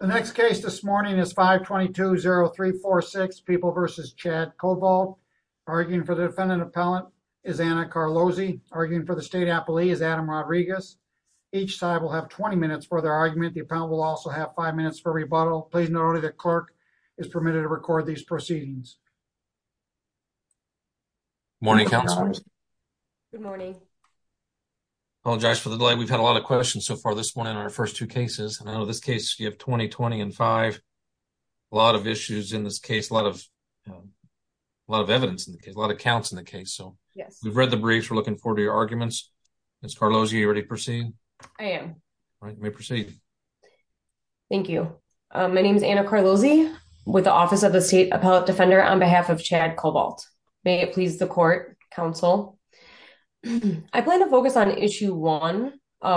The next case this morning is 522-0346, People v. Chad Covalt. Arguing for the defendant appellant is Anna Carlozzi. Arguing for the state appellee is Adam Rodriguez. Each side will have 20 minutes for their argument. The appellant will also have 5 minutes for rebuttal. Please note that the clerk is permitted to record these proceedings. Good morning, counselors. Good morning. I apologize for the delay. We've had a lot of questions so far this morning on our first two cases. And I know this case, you have 20, 20, and 5. A lot of issues in this case. A lot of evidence in the case. A lot of counts in the case. We've read the briefs. We're looking forward to your arguments. Ms. Carlozzi, are you ready to proceed? I am. All right, you may proceed. Thank you. My name is Anna Carlozzi with the Office of the State Appellate Defender on behalf of Chad Cobalt. May it please the court, counsel. I plan to focus on Issue 1,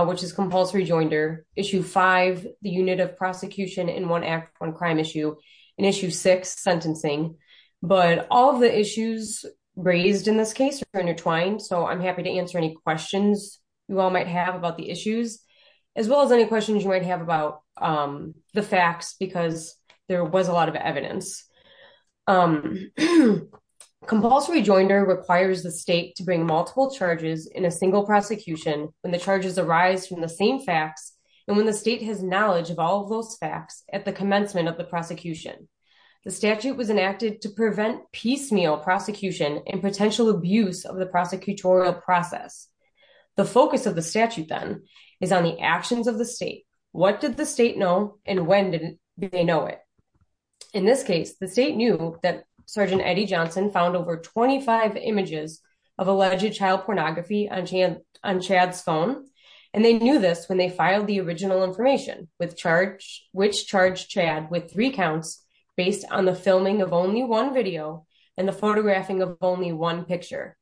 which is compulsory joinder. Issue 5, the unit of prosecution in one act of one crime issue. And Issue 6, sentencing. But all of the issues raised in this case are intertwined. So I'm happy to answer any questions you all might have about the issues. As well as any questions you might have about the facts because there was a lot of evidence. Compulsory joinder requires the state to bring multiple charges in a single prosecution when the charges arise from the same facts. And when the state has knowledge of all of those facts at the commencement of the prosecution. The statute was enacted to prevent piecemeal prosecution and potential abuse of the prosecutorial process. The focus of the statute then is on the actions of the state. What did the state know and when did they know it? In this case, the state knew that Sergeant Eddie Johnson found over 25 images of alleged child pornography on Chad's phone. And they knew this when they filed the original information, which charged Chad with three counts based on the filming of only one video and the photographing of only one picture.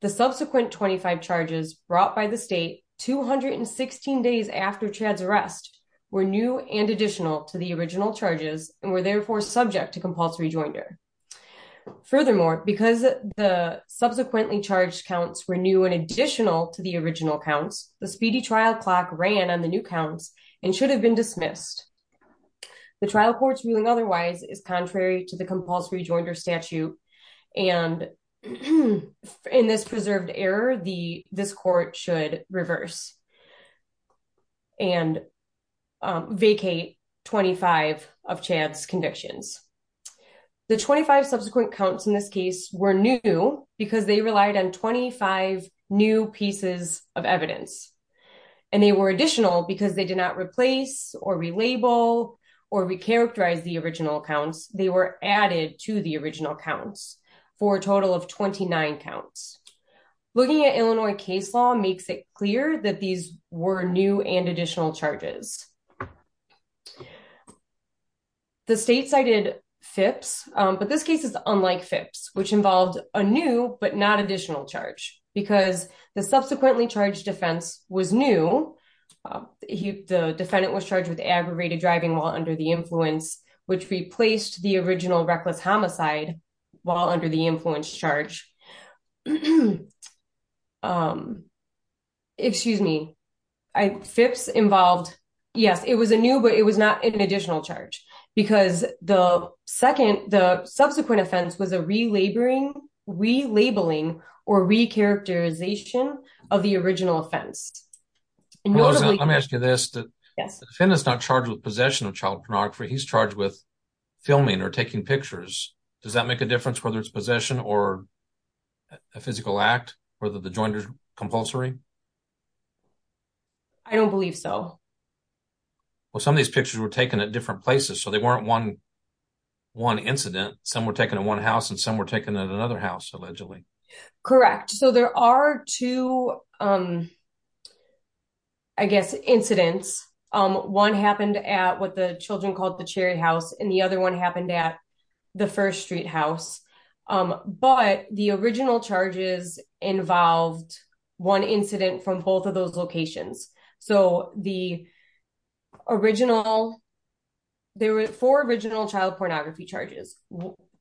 The subsequent 25 charges brought by the state 216 days after Chad's arrest were new and additional to the original charges and were therefore subject to compulsory joinder. Furthermore, because the subsequently charged counts were new and additional to the original counts, the speedy trial clock ran on the new counts and should have been dismissed. The trial courts ruling otherwise is contrary to the compulsory joinder statute. And in this preserved error, this court should reverse and vacate 25 of Chad's convictions. The 25 subsequent counts in this case were new because they relied on 25 new pieces of evidence. And they were additional because they did not replace or relabel or recharacterize the original accounts. They were added to the original counts for a total of 29 counts. Looking at Illinois case law makes it clear that these were new and additional charges. The state cited FIPS, but this case is unlike FIPS, which involved a new but not additional charge because the subsequently charged defense was new. The defendant was charged with aggravated driving while under the influence, which replaced the original reckless homicide while under the influence charge. Excuse me. FIPS involved, yes, it was a new, but it was not an additional charge because the second, the subsequent offense was a relabeling or recharacterization of the original offense. Let me ask you this. The defendant is not charged with possession of child pornography. He's charged with filming or taking pictures. Does that make a difference whether it's possession or a physical act for the joinder compulsory? I don't believe so. Well, some of these pictures were taken at different places, so they weren't one incident. Some were taken in one house and some were taken at another house, allegedly. Correct. So there are two, I guess, incidents. One happened at what the children called the Cherry House and the other one happened at the First Street House. But the original charges involved one incident from both of those locations. So the original, there were four original child pornography charges.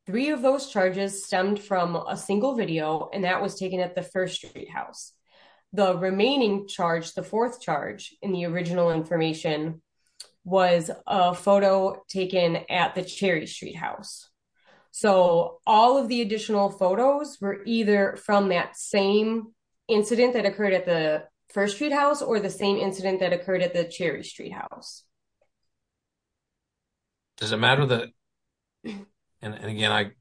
Three of those charges stemmed from a single video and that was taken at the First Street House. The remaining charge, the fourth charge in the original information, was a photo taken at the Cherry Street House. So all of the additional photos were either from that same incident that occurred at the First Street House or the same incident that occurred at the Cherry Street House. Does it matter that, and again,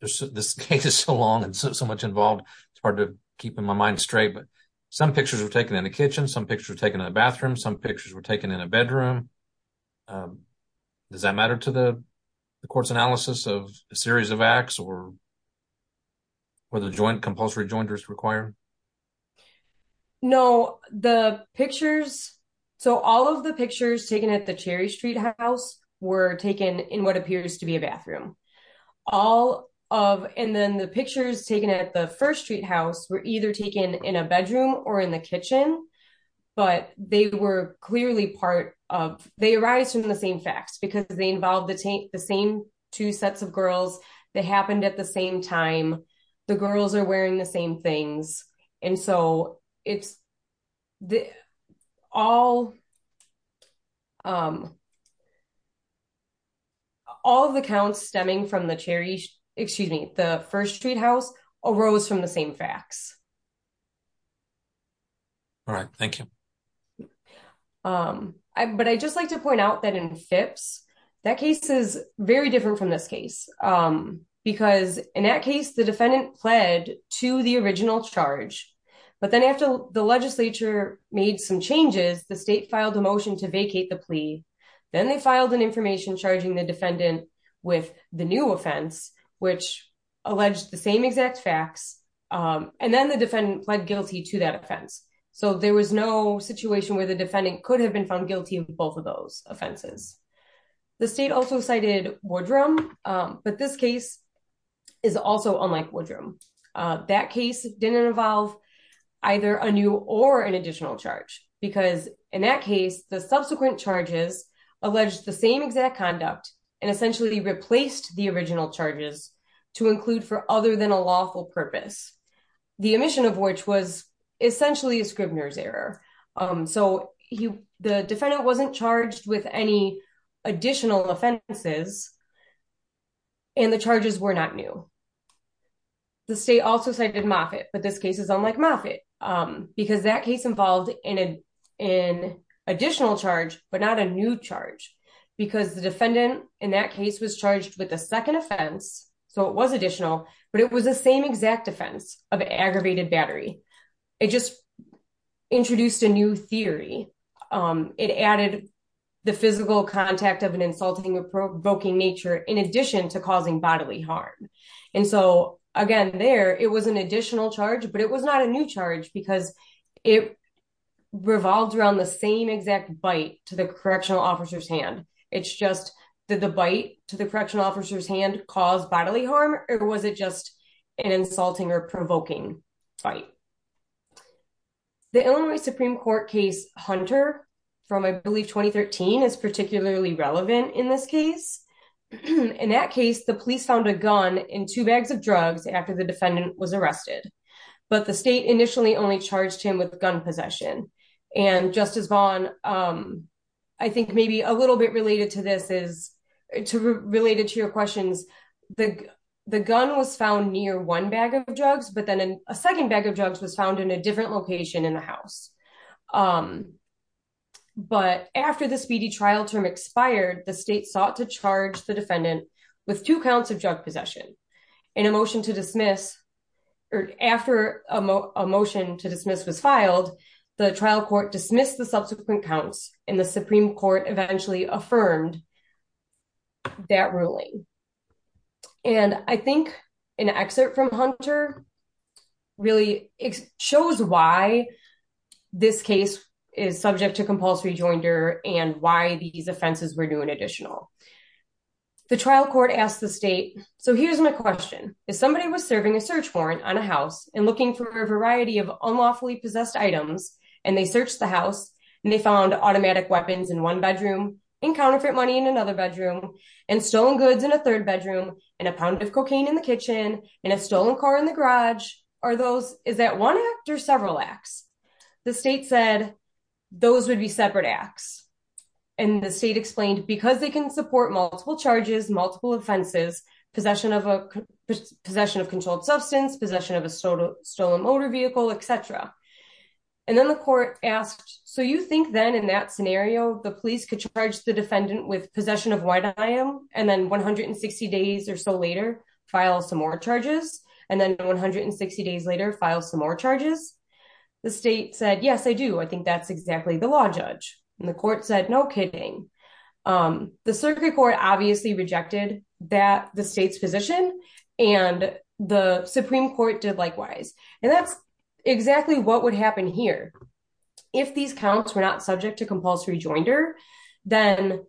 this case is so long and so much involved, it's hard to keep my mind straight, but some pictures were taken in the kitchen, some pictures were taken in the bathroom, some pictures were taken in a bedroom. Does that matter to the court's analysis of a series of acts or what the compulsory jointers require? No, the pictures, so all of the pictures taken at the Cherry Street House were taken in what appears to be a bathroom. All of, and then the pictures taken at the First Street House were either taken in a bedroom or in the kitchen, but they were clearly part of, they arise from the same facts because they involve the same two sets of girls. They happened at the same time. The girls are wearing the same things. And so it's all, all of the counts stemming from the Cherry, excuse me, the First Street House arose from the same facts. All right. Thank you. But I'd just like to point out that in Phipps, that case is very different from this case, because in that case, the defendant pled to the original charge. But then after the legislature made some changes, the state filed a motion to vacate the plea. Then they filed an information charging the defendant with the new offense, which alleged the same exact facts. And then the defendant pled guilty to that offense. So there was no situation where the defendant could have been found guilty of both of those offenses. The state also cited Woodrum, but this case is also unlike Woodrum. That case didn't involve either a new or an additional charge, because in that case, the subsequent charges alleged the same exact conduct and essentially replaced the original charges to include for other than a lawful purpose. The omission of which was essentially a Scribner's error. So the defendant wasn't charged with any additional offenses. And the charges were not new. The state also cited Moffitt. But this case is unlike Moffitt, because that case involved in an additional charge, but not a new charge, because the defendant in that case was charged with a second offense. So it was additional, but it was the same exact defense of aggravated battery. It just introduced a new theory. It added the physical contact of an insulting or provoking nature, in addition to causing bodily harm. And so, again, there, it was an additional charge, but it was not a new charge, because it revolved around the same exact bite to the correctional officer's hand. It's just that the bite to the correctional officer's hand caused bodily harm, or was it just an insulting or provoking fight? The Illinois Supreme Court case Hunter from, I believe, 2013 is particularly relevant in this case. In that case, the police found a gun in two bags of drugs after the defendant was arrested. But the state initially only charged him with gun possession. And Justice Vaughn, I think maybe a little bit related to this is related to your questions. The gun was found near one bag of drugs, but then a second bag of drugs was found in a different location in the house. But after the speedy trial term expired, the state sought to charge the defendant with two counts of drug possession. In a motion to dismiss, or after a motion to dismiss was filed, the trial court dismissed the subsequent counts, and the Supreme Court eventually affirmed that ruling. And I think an excerpt from Hunter really shows why this case is subject to compulsory joinder and why these offenses were new and additional. The trial court asked the state, so here's my question. If somebody was serving a search warrant on a house and looking for a variety of unlawfully possessed items, and they searched the house, and they found automatic weapons in one bedroom, and counterfeit money in another bedroom, and stolen goods in a third bedroom, and a pound of cocaine in the kitchen, and a stolen car in the garage, is that one act or several acts? The state said those would be separate acts. And the state explained, because they can support multiple charges, multiple offenses, possession of controlled substance, possession of a stolen motor vehicle, etc. And then the court asked, so you think then in that scenario, the police could charge the defendant with possession of what I am, and then 160 days or so later, file some more charges, and then 160 days later, file some more charges? The state said, yes, I do. I think that's exactly the law judge. And the court said, no kidding. The circuit court obviously rejected the state's position, and the Supreme Court did likewise. And that's exactly what would happen here. If these counts were not subject to compulsory joinder, then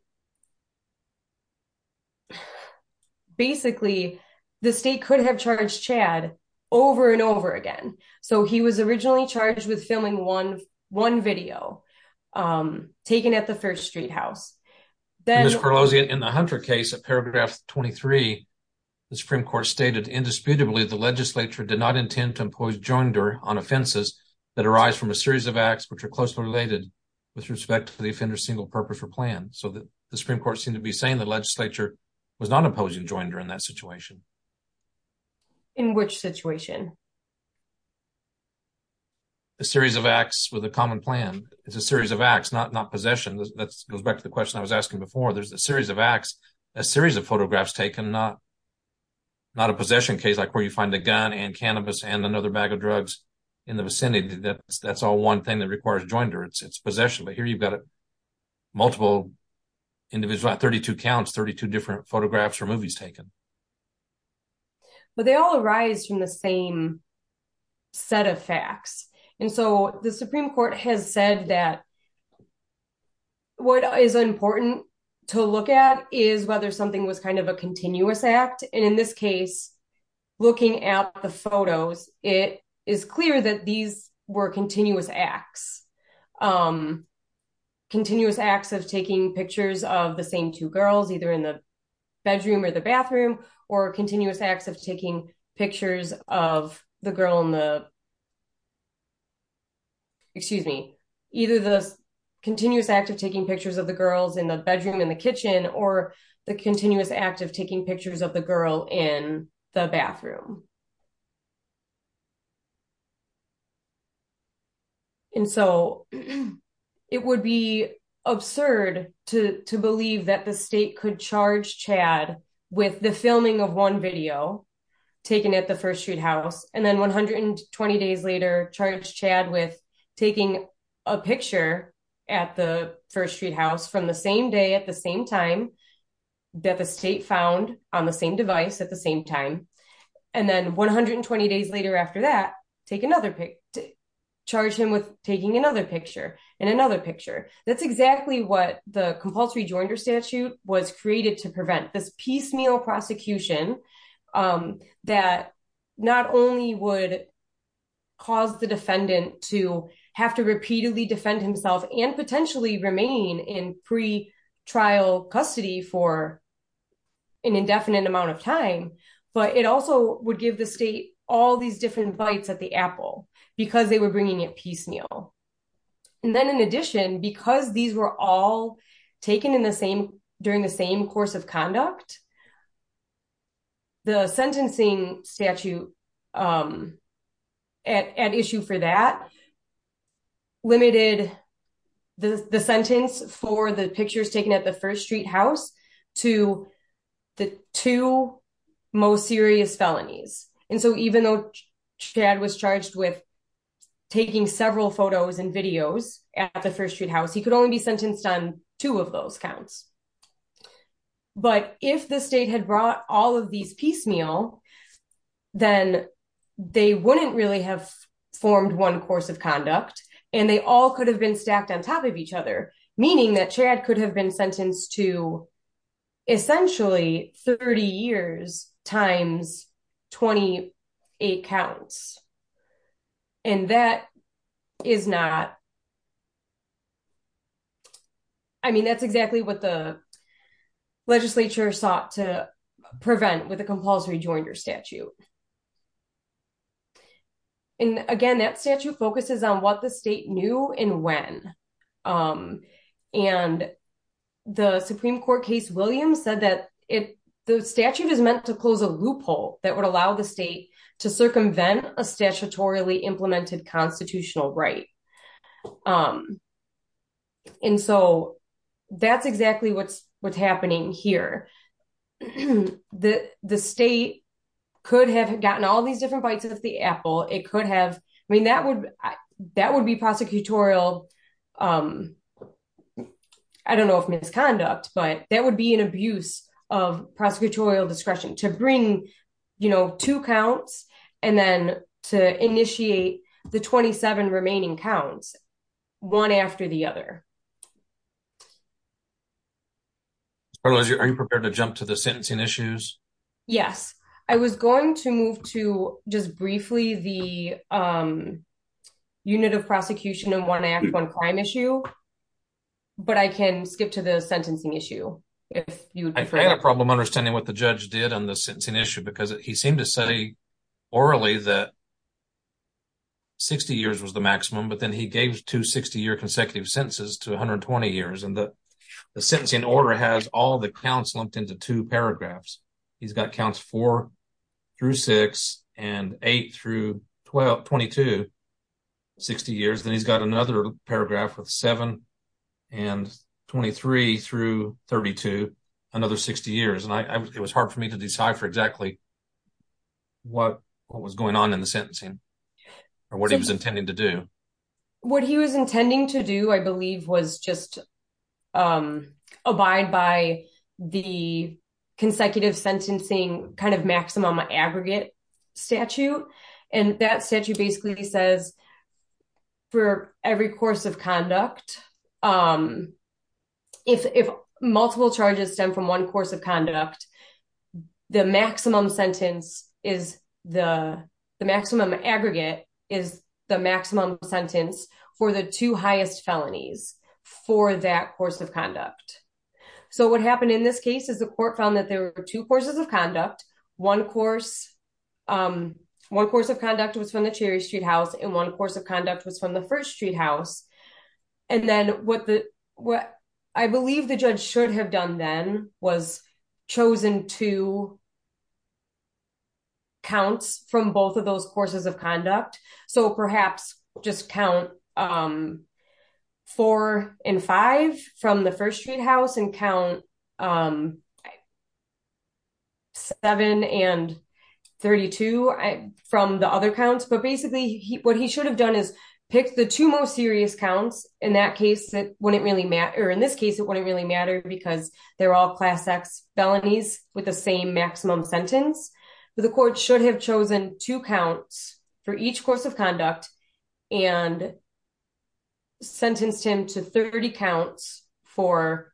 basically, the state could have charged Chad over and over again. So he was originally charged with filming one video taken at the first street house. In the Hunter case, paragraph 23, the Supreme Court stated, indisputably, the legislature did not intend to impose joinder on offenses that arise from a series of acts which are closely related with respect to the offender's single purpose or plan. So the Supreme Court seemed to be saying the legislature was not imposing joinder in that situation. In which situation? A series of acts with a common plan. It's a series of acts, not possession. That goes back to the question I was asking before. There's a series of acts, a series of photographs taken, not a possession case like where you find a gun and cannabis and another bag of drugs in the vicinity. That's all one thing that requires joinder. It's possession. But here you've got a multiple individual, 32 counts, 32 different photographs or movies taken. But they all arise from the same set of facts. And so the Supreme Court has said that what is important to look at is whether something was kind of a continuous act. And in this case, looking at the photos, it is clear that these were continuous acts. Continuous acts of taking pictures of the same two girls either in the bedroom or the bathroom or continuous acts of taking pictures of the girl in the... excuse me... Either the continuous act of taking pictures of the girls in the bedroom in the kitchen or the continuous act of taking pictures of the girl in the bathroom. And so it would be absurd to believe that the state could charge Chad with the filming of one video taken at the 1st Street House and then 120 days later charge Chad with taking a picture at the 1st Street House from the same day at the same time that the state found on the same device at the same time. And then 120 days later after that, charge him with taking another picture and another picture. That's exactly what the Compulsory Joinder Statute was created to prevent. This piecemeal prosecution that not only would cause the defendant to have to repeatedly defend himself and potentially remain in pre-trial custody for an indefinite amount of time, but it also would give the state all these different bites at the apple because they were bringing it piecemeal. And then in addition, because these were all taken during the same course of conduct, the sentencing statute at issue for that limited the sentence for the pictures taken at the 1st Street House to the two most serious felonies. And so even though Chad was charged with taking several photos and videos at the 1st Street House, he could only be sentenced on two of those counts. But if the state had brought all of these piecemeal, then they wouldn't really have formed one course of conduct and they all could have been stacked on top of each other, meaning that Chad could have been sentenced to essentially 30 years times 28 counts. And that is not. I mean, that's exactly what the legislature sought to prevent with the Compulsory Joinder Statute. And again, that statute focuses on what the state knew and when. And the Supreme Court case, Williams said that if the statute is meant to close a loophole that would allow the state to circumvent a statutorily implemented constitutional right. And so that's exactly what's what's happening here. The state could have gotten all these different bites of the apple. It could have. I mean, that would that would be prosecutorial. I don't know if misconduct, but that would be an abuse of prosecutorial discretion to bring, you know, two counts and then to initiate the 27 remaining counts one after the other. Are you prepared to jump to the sentencing issues? Yes, I was going to move to just briefly the unit of prosecution in one act on crime issue. But I can skip to the sentencing issue. If you had a problem understanding what the judge did on the sentencing issue, because he seemed to say orally that. 60 years was the maximum, but then he gave two 60 year consecutive sentences to 120 years, and the sentencing order has all the counts lumped into two paragraphs. He's got counts four through six and eight through 12, 22, 60 years. Then he's got another paragraph with seven and 23 through 32, another 60 years. And it was hard for me to decipher exactly what was going on in the sentencing or what he was intending to do. What he was intending to do, I believe, was just abide by the consecutive sentencing kind of maximum aggregate statute. And that statute basically says for every course of conduct, if multiple charges stem from one course of conduct, the maximum sentence is the maximum aggregate is the maximum sentence for the two highest felonies for that course of conduct. So what happened in this case is the court found that there were two courses of conduct. One course of conduct was from the Cherry Street House and one course of conduct was from the First Street House. And then what I believe the judge should have done then was chosen two counts from both of those courses of conduct. So perhaps just count four and five from the First Street House and count seven and 32 from the other counts. But basically, what he should have done is picked the two most serious counts. In that case, it wouldn't really matter. In this case, it wouldn't really matter because they're all class X felonies with the same maximum sentence. But the court should have chosen two counts for each course of conduct and sentenced him to 30 counts for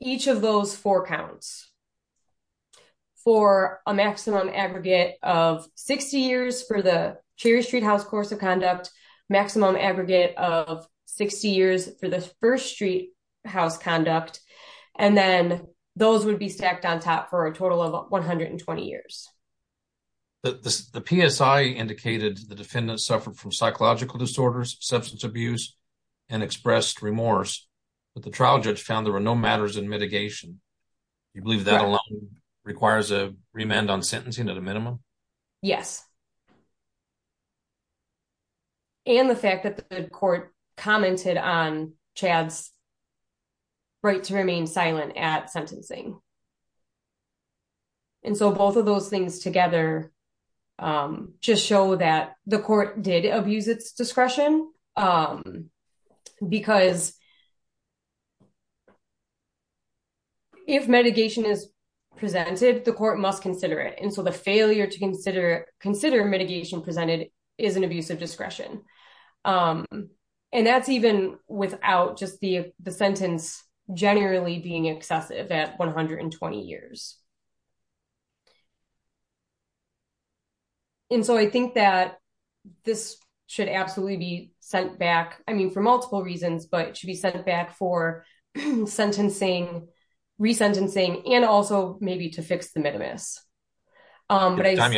each of those four counts for a maximum aggregate of 60 years for the Cherry Street House course of conduct, maximum aggregate of 60 years for the First Street House conduct. And then those would be stacked on top for a total of 120 years. The PSI indicated the defendant suffered from psychological disorders, substance abuse, and expressed remorse, but the trial judge found there were no matters in mitigation. You believe that alone requires a remand on sentencing at a minimum? Yes. And the fact that the court commented on Chad's right to remain silent at sentencing. And so both of those things together just show that the court did abuse its discretion. Because if mitigation is presented, the court must consider it. And so the failure to consider mitigation presented is an abuse of discretion. And that's even without just the sentence generally being excessive at 120 years. And so I think that this should absolutely be sent back, I mean, for multiple reasons, but it should be sent back for sentencing, resentencing, and also maybe to fix the minimus. There was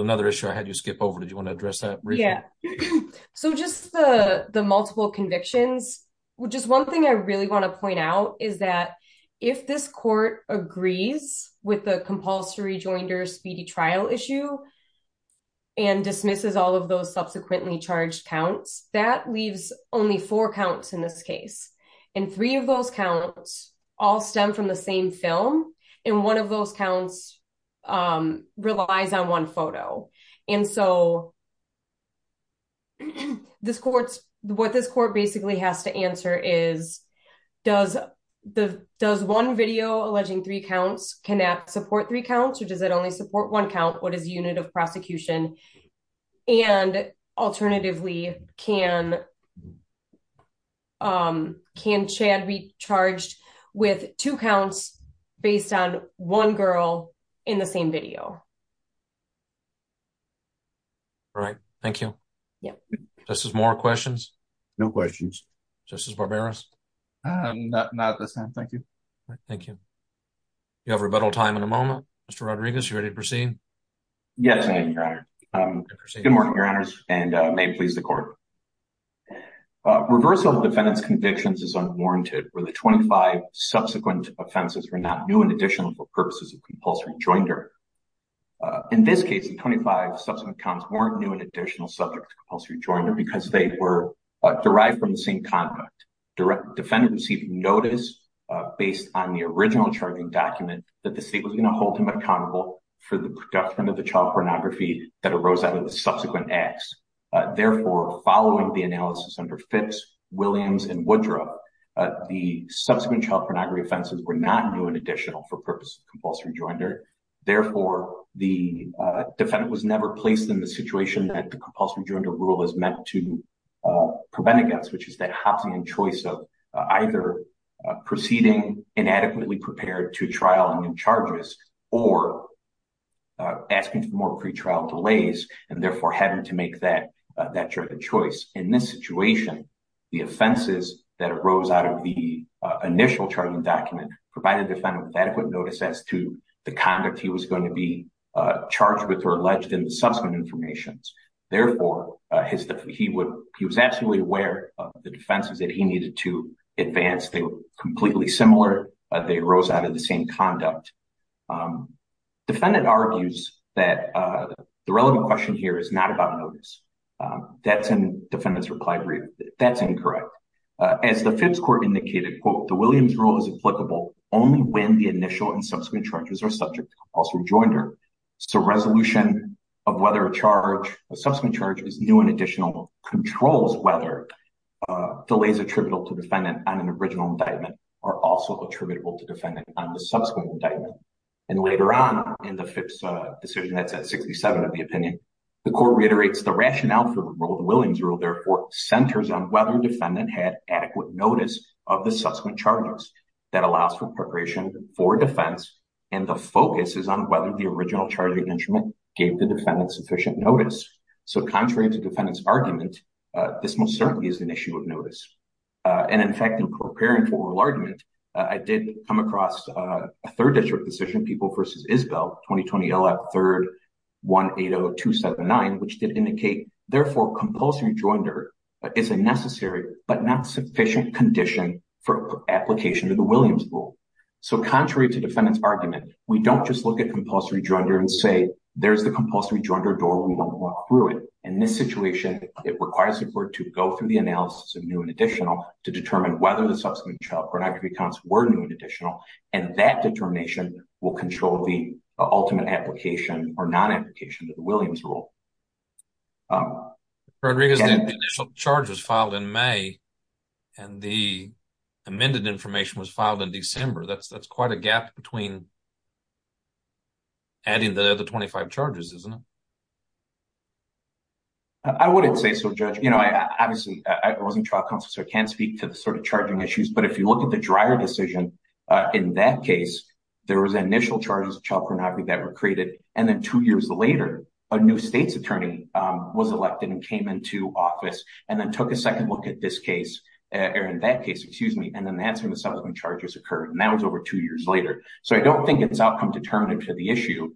another issue I had you skip over. Did you want to address that briefly? Yeah. So just the multiple convictions, just one thing I really want to point out is that if this court agrees with the compulsory joinder speedy trial issue and dismisses all of those subsequently charged counts, that leaves only four counts in this case. And three of those counts all stem from the same film. And one of those counts relies on one photo. And so what this court basically has to answer is, does one video alleging three counts, can that support three counts? Or does it only support one count? What is the unit of prosecution? And alternatively, can Chad be charged with two counts based on one girl in the same video? All right. Thank you. Yeah. Justice Moore, questions? No questions. Justice Barbera? Not at this time. Thank you. Thank you. You have rebuttal time in a moment. Mr. Rodriguez, you ready to proceed? Yes, Your Honor. Good morning, Your Honors, and may it please the court. Reversal of defendant's convictions is unwarranted where the 25 subsequent offenses are not new and additional for purposes of compulsory joinder. In this case, the 25 subsequent counts weren't new and additional subject to compulsory joinder because they were derived from the same conduct. Defendant received notice based on the original charging document that the state was going to hold him accountable for the production of the child pornography that arose out of the subsequent acts. Therefore, following the analysis under Fitz, Williams, and Woodrow, the subsequent child pornography offenses were not new and additional for purposes of compulsory joinder. Therefore, the defendant was never placed in the situation that the compulsory joinder rule is meant to prevent against, which is that Hopsonian choice of either proceeding inadequately prepared to trial and new charges or asking for more pretrial delays and therefore having to make that choice. In this situation, the offenses that arose out of the initial charging document provided defendant with adequate notice as to the conduct he was going to be charged with or alleged in the subsequent information. Therefore, he was absolutely aware of the defenses that he needed to advance. They were completely similar. They arose out of the same conduct. Defendant argues that the relevant question here is not about notice. That's in defendant's reply brief. That's incorrect. As the Fibbs court indicated, quote, the Williams rule is applicable only when the initial and subsequent charges are subject to compulsory joinder. So resolution of whether a subsequent charge is new and additional controls whether delays attributable to defendant on an original indictment are also attributable to defendant on the subsequent indictment. And later on in the Fibbs decision, that's at 67 of the opinion, the court reiterates the rationale for the Williams rule. Therefore, centers on whether defendant had adequate notice of the subsequent charges that allows for preparation for defense. And the focus is on whether the original charging instrument gave the defendant sufficient notice. So contrary to defendant's argument, this most certainly is an issue of notice. And in fact, in preparing for oral argument, I did come across a third district decision, people versus Isbell 2020 LF 3rd 180279, which did indicate. Therefore, compulsory joinder is a necessary, but not sufficient condition for application to the Williams rule. So, contrary to defendant's argument, we don't just look at compulsory joinder and say, there's the compulsory joinder door. In this situation, it requires support to go through the analysis of new and additional to determine whether the subsequent child pornography counts were new and additional. And that determination will control the ultimate application or non application to the Williams rule. Rodriguez charges filed in May, and the amended information was filed in December. That's that's quite a gap between. Adding the other 25 charges, isn't it? I wouldn't say so, judge, you know, I obviously I wasn't trial counselor can speak to the sort of charging issues. But if you look at the dryer decision in that case, there was an initial charges of child pornography that were created. And then two years later, a new state's attorney was elected and came into office and then took a second look at this case. In that case, excuse me, and then answering the subsequent charges occurred, and that was over two years later. So I don't think it's outcome determinative to the issue,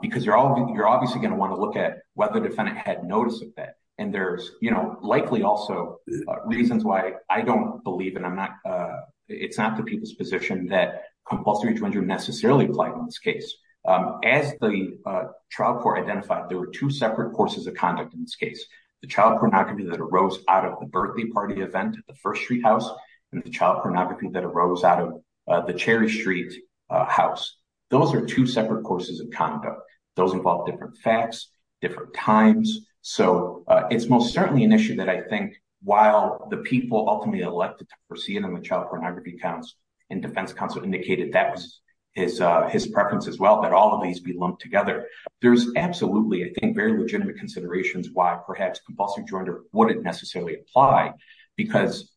because you're all you're obviously going to want to look at whether the defendant had notice of that. And there's likely also reasons why I don't believe that I'm not. It's not the people's position that compulsory joinder necessarily applied in this case. As the trial court identified, there were two separate courses of conduct in this case. The child pornography that arose out of the birthday party event at the First Street House and the child pornography that arose out of the Cherry Street House. Those are two separate courses of conduct. Those involve different facts, different times. So it's most certainly an issue that I think, while the people ultimately elected to proceed on the child pornography counts and defense counsel indicated that was his his preference as well, that all of these be lumped together. There's absolutely, I think, very legitimate considerations why perhaps compulsory joinder wouldn't necessarily apply. Because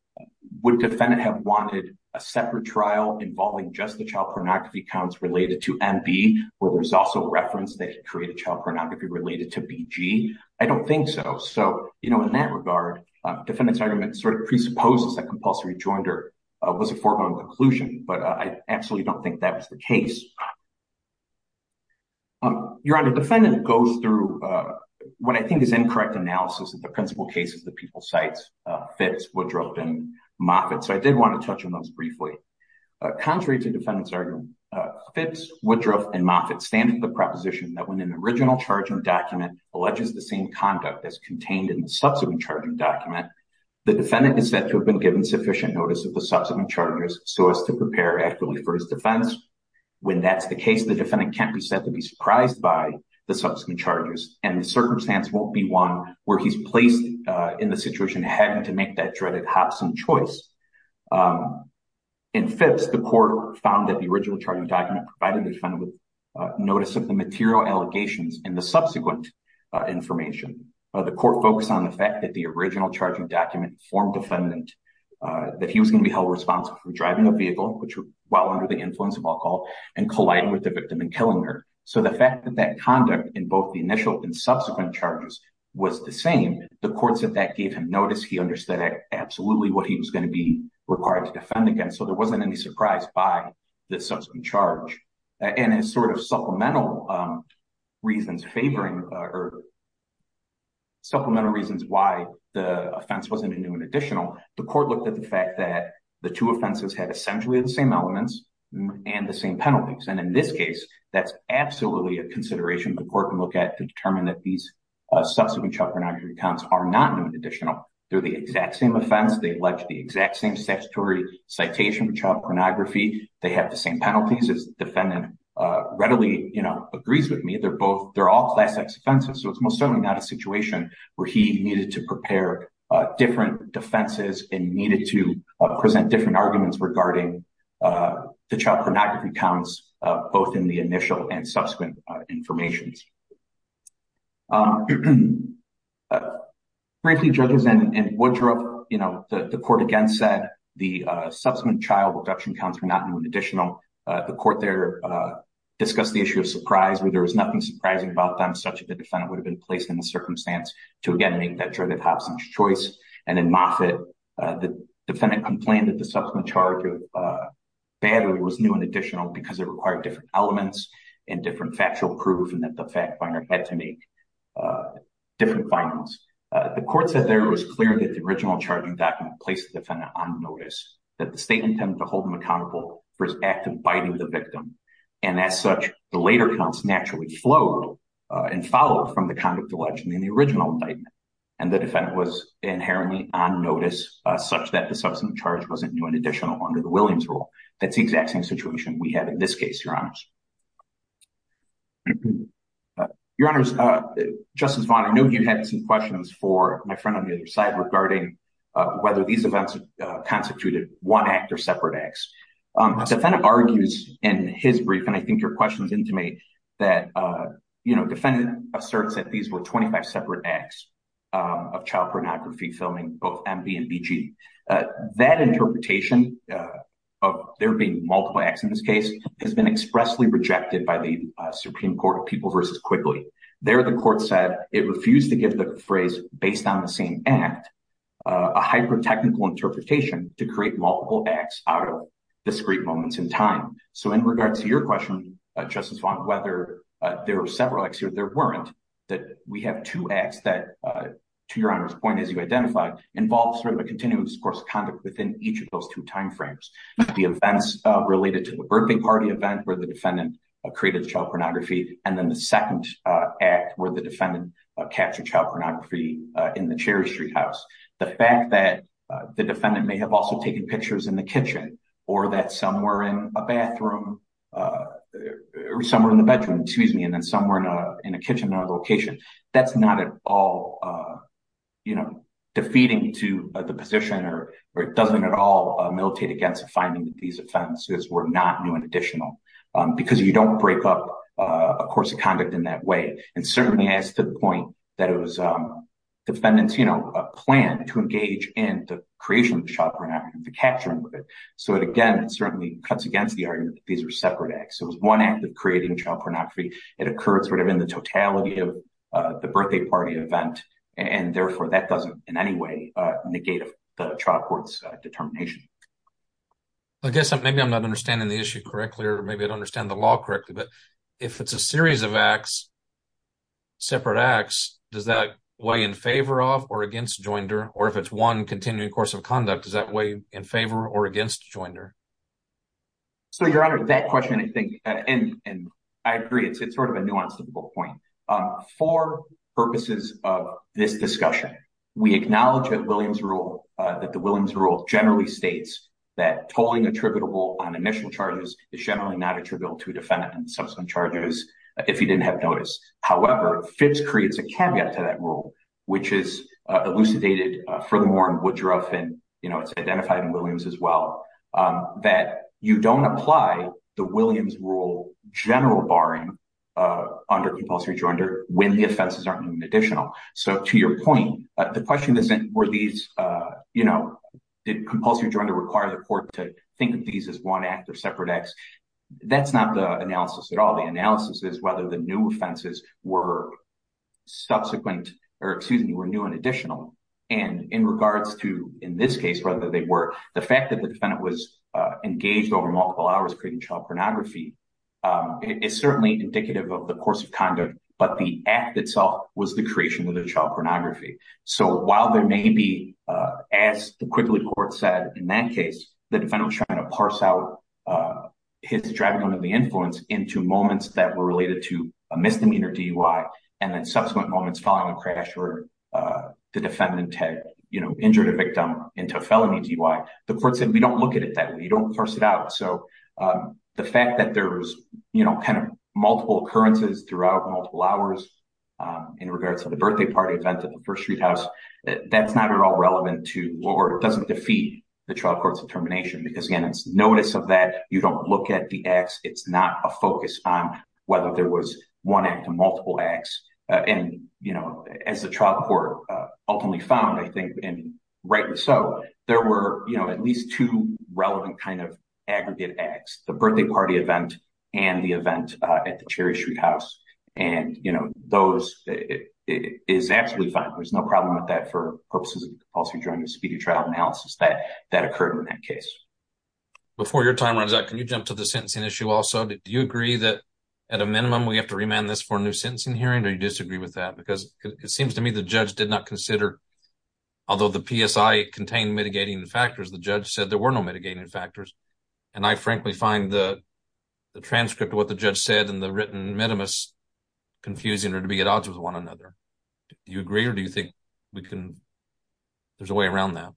would defendant have wanted a separate trial involving just the child pornography counts related to MB, where there's also reference that created child pornography related to BG? I don't think so. So, you know, in that regard, defendant's argument sort of presupposes that compulsory joinder was a foregone conclusion, but I absolutely don't think that was the case. Your Honor, defendant goes through what I think is incorrect analysis of the principal cases that people cite Fitz, Woodruff and Moffitt. So I did want to touch on those briefly. Contrary to defendant's argument, Fitz, Woodruff and Moffitt stand to the proposition that when an original charging document alleges the same conduct as contained in the subsequent charging document, the defendant is said to have been given sufficient notice of the subsequent charges so as to prepare adequately for his defense. When that's the case, the defendant can't be said to be surprised by the subsequent charges and the circumstance won't be one where he's placed in the situation having to make that dreaded hops and choice. In Fitz, the court found that the original charging document provided the defendant with notice of the material allegations and the subsequent information. The court focused on the fact that the original charging document informed defendant that he was going to be held responsible for driving a vehicle, which while under the influence of alcohol, and colliding with the victim and killing her. So the fact that that conduct in both the initial and subsequent charges was the same, the courts that that gave him notice, he understood absolutely what he was going to be required to defend against. So there wasn't any surprise by the subsequent charge. And as sort of supplemental reasons favoring or supplemental reasons why the offense wasn't a new and additional, the court looked at the fact that the two offenses had essentially the same elements and the same penalties. And in this case, that's absolutely a consideration the court can look at to determine that these subsequent child pornography counts are not new and additional. They're the exact same offense. They allege the exact same statutory citation of child pornography. They have the same penalties as defendant readily agrees with me. They're both they're all class X offenses. So it's most certainly not a situation where he needed to prepare different defenses and needed to present different arguments regarding the child pornography counts, both in the initial and subsequent information. Frankly, judges and Woodruff, you know, the court again said the subsequent child abduction counts were not new and additional. The court there discussed the issue of surprise where there was nothing surprising about them, such that the defendant would have been placed in the circumstance to again make that choice. And in Moffitt, the defendant complained that the subsequent charge of battery was new and additional because it required different elements and different factual proof and that the fact finder had to make different findings. The court said there was clear that the original charging document placed the defendant on notice that the state intended to hold him accountable for his act of biting the victim. And as such, the later counts naturally flowed and followed from the conduct alleged in the original indictment. And the defendant was inherently on notice such that the subsequent charge wasn't new and additional under the Williams rule. That's the exact same situation we have in this case, Your Honor. Your Honor, Justice Vaughn, I know you had some questions for my friend on the other side regarding whether these events constituted one act or separate acts. The defendant argues in his brief, and I think your question is intimate, that the defendant asserts that these were 25 separate acts of child pornography filming, both MB and BG. That interpretation of there being multiple acts in this case has been expressly rejected by the Supreme Court of People v. Quigley. There, the court said it refused to give the phrase, based on the same act, a hyper-technical interpretation to create multiple acts out of discrete moments in time. So, in regards to your question, Justice Vaughn, whether there were several acts or there weren't, that we have two acts that, to Your Honor's point, as you identified, involved sort of a continuous course of conduct within each of those two time frames. The events related to the birthing party event where the defendant created child pornography, and then the second act where the defendant captured child pornography in the Cherry Street house. The fact that the defendant may have also taken pictures in the kitchen, or that somewhere in a bathroom, or somewhere in the bedroom, excuse me, and then somewhere in a kitchen in another location, that's not at all, you know, defeating to the position, or it doesn't at all militate against the finding that these offenses were not new and additional, because you don't break up a course of conduct in that way. And certainly, as to the point that it was defendant's, you know, plan to engage in the creation of child pornography, the capturing of it. So, again, it certainly cuts against the argument that these are separate acts. It was one act of creating child pornography. It occurred sort of in the totality of the birthday party event, and therefore that doesn't in any way negate the trial court's determination. I guess maybe I'm not understanding the issue correctly, or maybe I don't understand the law correctly, but if it's a series of acts, separate acts, does that weigh in favor of or against Joinder, or if it's one continuing course of conduct, does that weigh in favor or against Joinder? So, Your Honor, that question, I think, and I agree, it's sort of a nuance to the whole point. For purposes of this discussion, we acknowledge that Williams rule, that the Williams rule generally states that tolling attributable on initial charges is generally not attributable to defendant and subsequent charges, if you didn't have noticed. However, Fibbs creates a caveat to that rule, which is elucidated furthermore in Woodruff, and, you know, it's identified in Williams as well, that you don't apply the Williams rule general barring under compulsory Joinder when the offenses aren't even additional. So, to your point, the question isn't, were these, you know, did compulsory Joinder require the court to think of these as one act or separate acts? That's not the analysis at all. The analysis is whether the new offenses were subsequent or, excuse me, were new and additional. And in regards to, in this case, whether they were, the fact that the defendant was engaged over multiple hours creating child pornography is certainly indicative of the course of conduct, but the act itself was the creation of the child pornography. So, while there may be, as the Quigley court said in that case, the defendant was trying to parse out his driving under the influence into moments that were related to a misdemeanor DUI and then subsequent moments following the crash where the defendant had, you know, injured a victim into a felony DUI. The court said, we don't look at it that way. We don't parse it out. So, the fact that there was, you know, kind of multiple occurrences throughout multiple hours in regards to the birthday party event at the First Street House, that's not at all relevant to or doesn't defeat the trial court's determination. Because, again, it's notice of that. You don't look at the acts. It's not a focus on whether there was one act or multiple acts. And, you know, as the trial court ultimately found, I think, and rightly so, there were, you know, at least two relevant kind of aggregate acts, the birthday party event and the event at the Cherry Street House. And, you know, those is absolutely fine. There's no problem with that for purposes of also during the speedy trial analysis that occurred in that case. Before your time runs out, can you jump to the sentencing issue also? Do you agree that at a minimum, we have to remand this for a new sentencing hearing or you disagree with that? Because it seems to me the judge did not consider, although the PSI contained mitigating factors, the judge said there were no mitigating factors. And I frankly find the transcript of what the judge said and the written minimus confusing or to be at odds with one another. Do you agree or do you think we can, there's a way around that?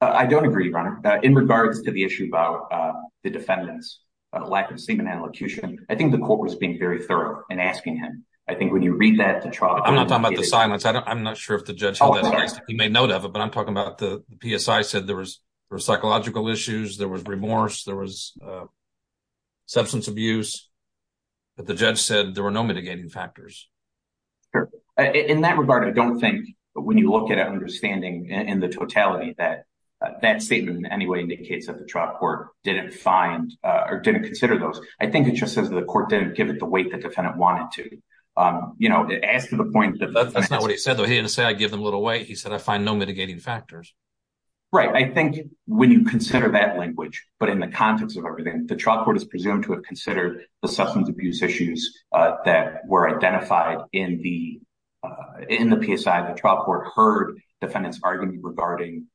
I don't agree, Your Honor. In regards to the issue about the defendant's lack of semen allocution, I think the court was being very thorough in asking him. I think when you read that to trial. I'm not talking about the silence. I'm not sure if the judge made note of it, but I'm talking about the PSI said there was psychological issues. There was remorse. There was substance abuse. But the judge said there were no mitigating factors. In that regard, I don't think when you look at understanding in the totality that that statement in any way indicates that the trial court didn't find or didn't consider those. I think it just says that the court didn't give it the weight the defendant wanted to ask to the point that that's not what he said, though. He didn't say I give them a little weight. He said, I find no mitigating factors. Right. I think when you consider that language, but in the context of everything, the trial court is presumed to have considered the substance abuse issues that were identified in the in the PSI. The trial court heard defendants arguing regarding,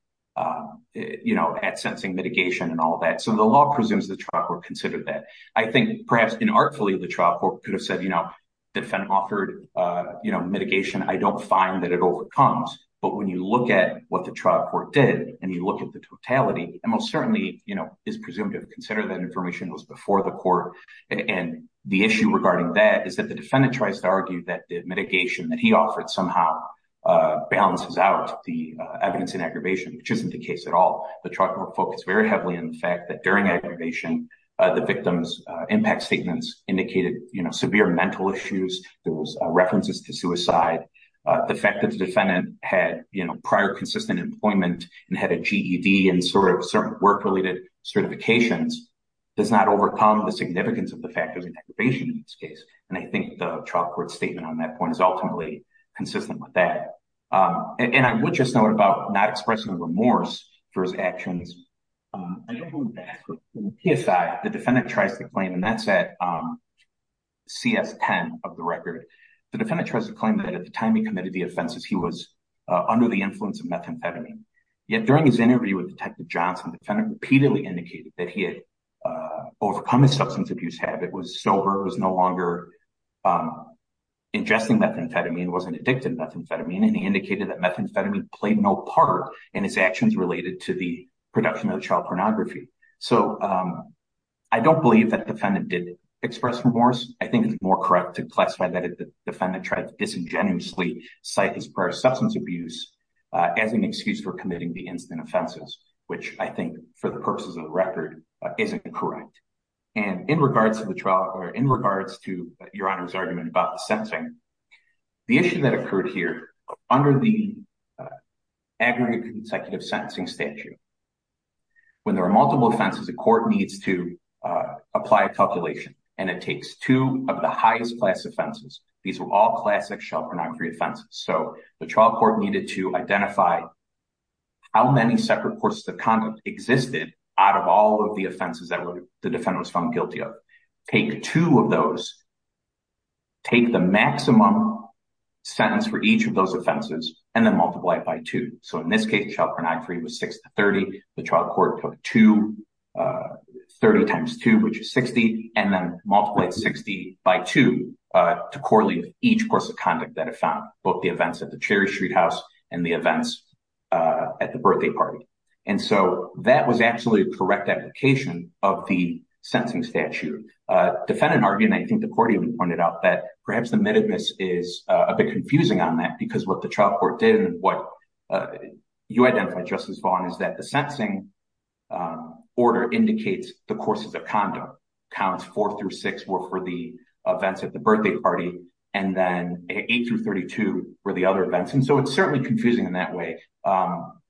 you know, at sensing mitigation and all that. So the law presumes the trial court considered that. I think perhaps artfully, the trial court could have said, you know, the defendant offered mitigation. I don't find that it overcomes. But when you look at what the trial court did and you look at the totality and most certainly is presumed to consider that information was before the court. And the issue regarding that is that the defendant tries to argue that the mitigation that he offered somehow balances out the evidence in aggravation, which isn't the case at all. The trial court focused very heavily on the fact that during aggravation, the victim's impact statements indicated severe mental issues. There was references to suicide. The fact that the defendant had prior consistent employment and had a GED and sort of work related certifications does not overcome the significance of the factors in aggravation in this case. And I think the trial court statement on that point is ultimately consistent with that. And I would just note about not expressing remorse for his actions. If the defendant tries to claim and that's at CS 10 of the record, the defendant tries to claim that at the time he committed the offenses, he was under the influence of methamphetamine. Yet during his interview with Detective Johnson, the defendant repeatedly indicated that he had overcome his substance abuse habit, was sober, was no longer ingesting methamphetamine, wasn't addicted to methamphetamine. And he indicated that methamphetamine played no part in his actions related to the production of child pornography. So I don't believe that the defendant did express remorse. I think it's more correct to classify that if the defendant tried to disingenuously cite his prior substance abuse as an excuse for committing the incident offenses, which I think for the purposes of the record, isn't correct. And in regards to your honor's argument about the sentencing, the issue that occurred here under the aggregate consecutive sentencing statute, when there are multiple offenses, the court needs to apply a calculation and it takes two of the highest class offenses. These were all classic child pornography offenses. So the trial court needed to identify how many separate courses of conduct existed out of all of the offenses that the defendant was found guilty of. Take two of those, take the maximum sentence for each of those offenses, and then multiply it by two. So in this case, child pornography was six to 30. The trial court took two, 30 times two, which is 60, and then multiply 60 by two to correlate each course of conduct that it found, both the events at the Cherry Street House and the events at the birthday party. And so that was actually a correct application of the sentencing statute. Defendant argued, and I think the court even pointed out, that perhaps the admittedness is a bit confusing on that because what the trial court did and what you identified, Justice Vaughn, is that the sentencing order indicates the courses of conduct. And so it's certainly confusing in that way.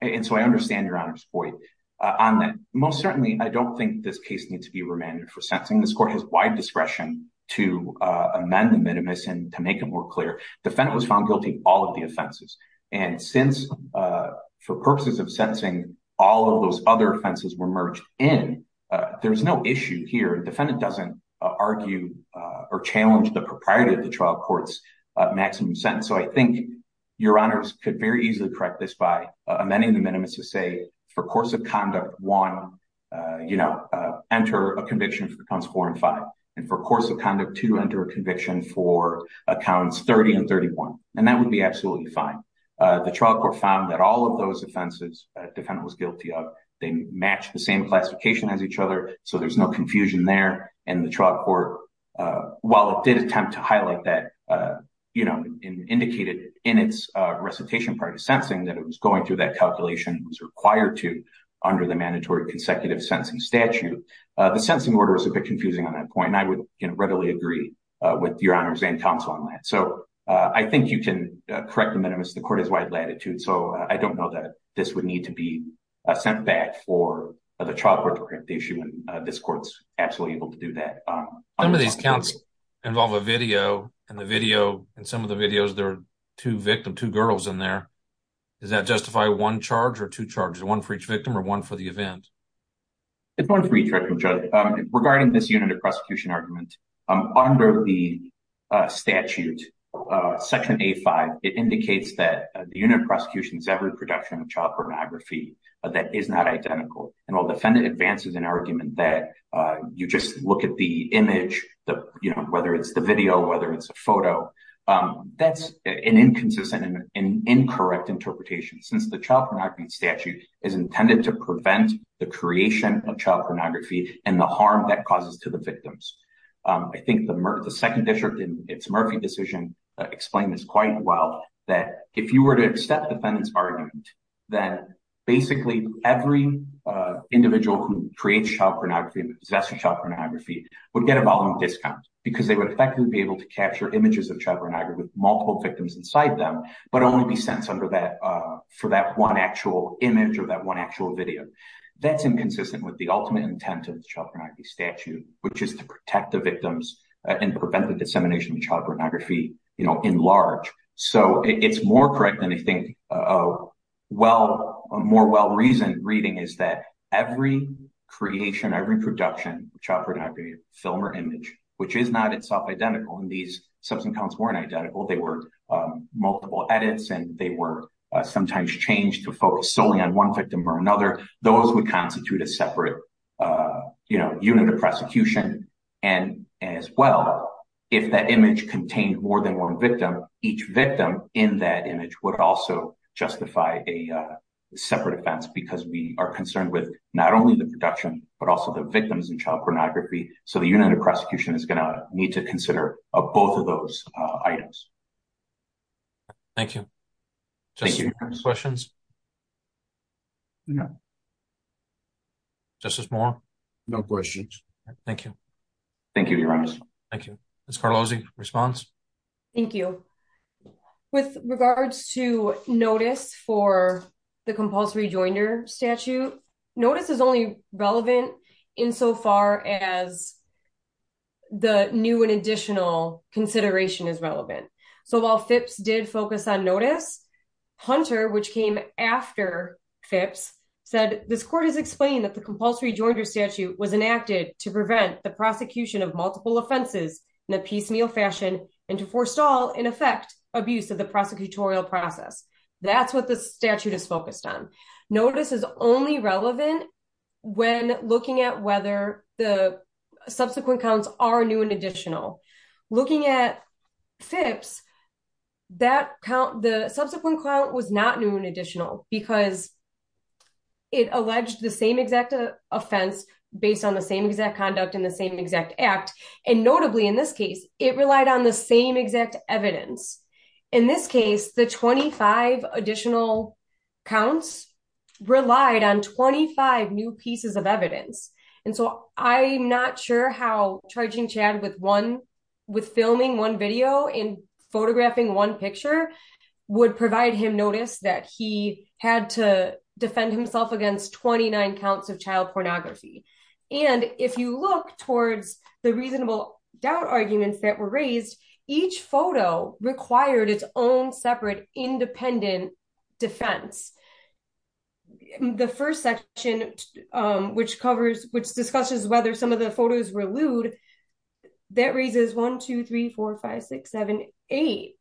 And so I understand Your Honor's point on that. Most certainly, I don't think this case needs to be remanded for sentencing. This court has wide discretion to amend the admittedness and to make it more clear. Defendant was found guilty of all of the offenses. And since, for purposes of sentencing, all of those other offenses were merged in, there's no issue here. Defendant doesn't argue or challenge the propriety of the trial court's maximum sentence. And so I think Your Honors could very easily correct this by amending the admittedness to say, for course of conduct one, enter a conviction for counts four and five. And for course of conduct two, enter a conviction for counts 30 and 31. And that would be absolutely fine. The trial court found that all of those offenses defendant was guilty of, they matched the same classification as each other. So there's no confusion there. And the trial court, while it did attempt to highlight that, you know, indicated in its recitation part of sentencing that it was going through that calculation was required to under the mandatory consecutive sentencing statute. The sentencing order is a bit confusing on that point. And I would readily agree with Your Honors and counsel on that. So I think you can correct the admittedness. The court has wide latitude. So I don't know that this would need to be sent back for the trial court to correct the issue. And this court's absolutely able to do that. Some of these counts involve a video. And the video and some of the videos, there are two victims, two girls in there. Does that justify one charge or two charges? One for each victim or one for the event? It's one for each victim, Judge. Regarding this unit of prosecution argument, under the statute, Section A-5, it indicates that the unit of prosecution is every production of child pornography that is not identical. And while defendant advances an argument that you just look at the image, whether it's the video, whether it's a photo, that's an inconsistent and incorrect interpretation since the child pornography statute is intended to prevent the creation of child pornography and the harm that causes to the victims. I think the second district in its Murphy decision explained this quite well, that if you were to accept defendant's argument, then basically every individual who creates child pornography and possesses child pornography would get a volume discount because they would effectively be able to capture images of child pornography with multiple victims inside them, but only be sentenced for that one actual image or that one actual video. That's inconsistent with the ultimate intent of the child pornography statute, which is to protect the victims and prevent the dissemination of child pornography, you know, in large. So it's more correct than I think a more well-reasoned reading is that every creation, every production of child pornography, film or image, which is not itself identical, and these substance counts weren't identical, they were multiple edits and they were sometimes changed to focus solely on one victim or another, those would constitute a separate unit of prosecution. And as well, if that image contained more than one victim, each victim in that image would also justify a separate offense because we are concerned with not only the production, but also the victims and child pornography. So the unit of prosecution is going to need to consider both of those items. Thank you. Questions? No. Justice Moore? No questions. Thank you. Thank you, Your Honor. Ms. Carlozzi, response? Thank you. With regards to notice for the compulsory joinder statute, notice is only relevant insofar as the new and additional consideration is relevant. So while FIPS did focus on notice, Hunter, which came after FIPS, said, this court has explained that the compulsory joinder statute was enacted to prevent the prosecution of multiple offenses in a piecemeal fashion and to forestall, in effect, abuse of the prosecutorial process. That's what the statute is focused on. Notice is only relevant when looking at whether the subsequent counts are new and additional. Looking at FIPS, the subsequent count was not new and additional because it alleged the same exact offense based on the same exact conduct and the same exact act. And notably, in this case, it relied on the same exact evidence. In this case, the 25 additional counts relied on 25 new pieces of evidence. And so I'm not sure how charging Chad with filming one video and photographing one picture would provide him notice that he had to defend himself against 29 counts of child pornography. And if you look towards the reasonable doubt arguments that were raised, each photo required its own separate independent defense. The first section, which discusses whether some of the photos were lewd, that raises 1, 2, 3, 4, 5, 6, 7, 8,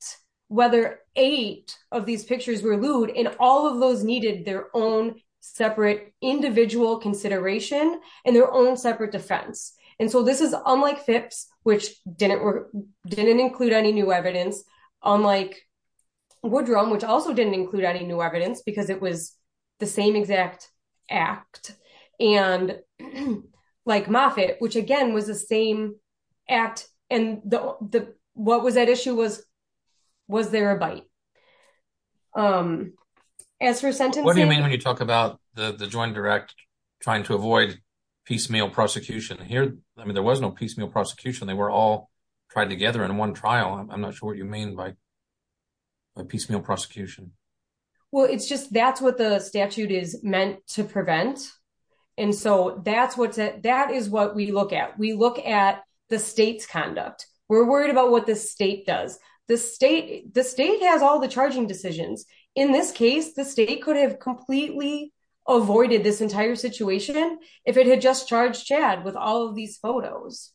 whether eight of these pictures were lewd and all of those needed their own separate individual consideration and their own separate defense. And so this is unlike FIPS, which didn't include any new evidence, unlike Woodrow, which also didn't include any new evidence because it was the same exact act. And like Moffitt, which again was the same act and what was at issue was, was there a bite? What do you mean when you talk about the Joint Direct trying to avoid piecemeal prosecution? I mean, there was no piecemeal prosecution. They were all tried together in one trial. I'm not sure what you mean by piecemeal prosecution. Well, it's just that's what the statute is meant to prevent. And so that is what we look at. We look at the state's conduct. We're worried about what the state does. The state has all the charging decisions. In this case, the state could have completely avoided this entire situation if it had just charged Chad with all of these photos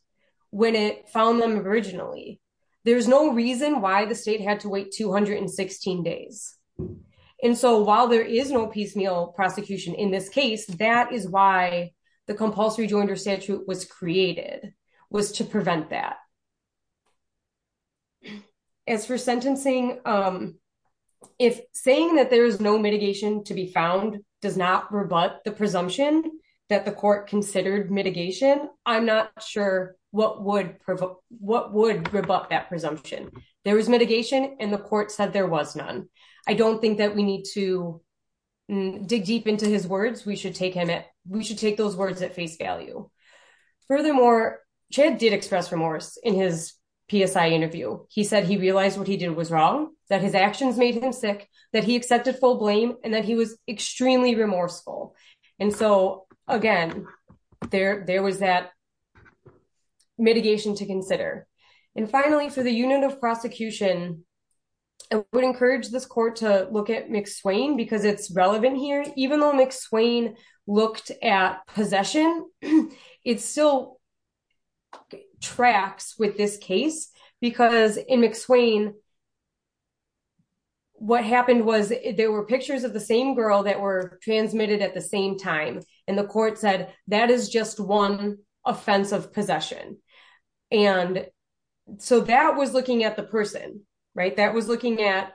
when it found them originally. There's no reason why the state had to wait 216 days. And so while there is no piecemeal prosecution in this case, that is why the compulsory joinder statute was created, was to prevent that. As for sentencing, if saying that there is no mitigation to be found does not rebut the presumption that the court considered mitigation, I'm not sure what would rebut that presumption. There was mitigation and the court said there was none. I don't think that we need to dig deep into his words. We should take those words at face value. Furthermore, Chad did express remorse in his PSI interview. He said he realized what he did was wrong, that his actions made him sick, that he accepted full blame, and that he was extremely remorseful. And so, again, there was that mitigation to consider. And finally, for the unit of prosecution, I would encourage this court to look at McSwain because it's relevant here. Even though McSwain looked at possession, it still tracks with this case because in McSwain, what happened was there were pictures of the same girl that were transmitted at the same time. And the court said that is just one offense of possession. And so that was looking at the person, right? That was looking at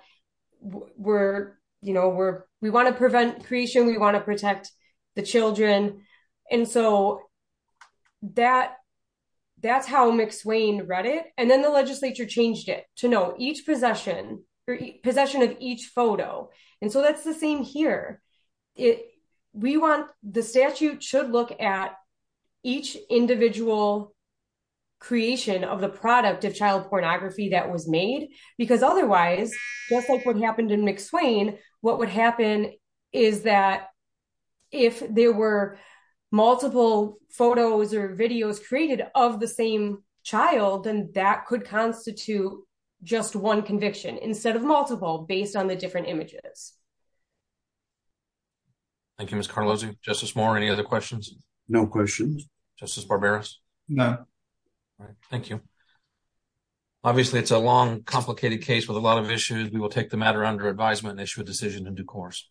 we're, you know, we want to prevent creation, we want to protect the children. And so that's how McSwain read it. And then the legislature changed it to no, each possession, possession of each photo. And so that's the same here. The statute should look at each individual creation of the product of child pornography that was made. Because otherwise, just like what happened in McSwain, what would happen is that if there were multiple photos or videos created of the same child, then that could constitute just one conviction instead of multiple based on the different images. Thank you, Ms. Carlozzi. Justice Moore, any other questions? No questions. Justice Barberos? No. Thank you. Obviously, it's a long, complicated case with a lot of issues. We will take the matter under advisement and issue a decision in due course.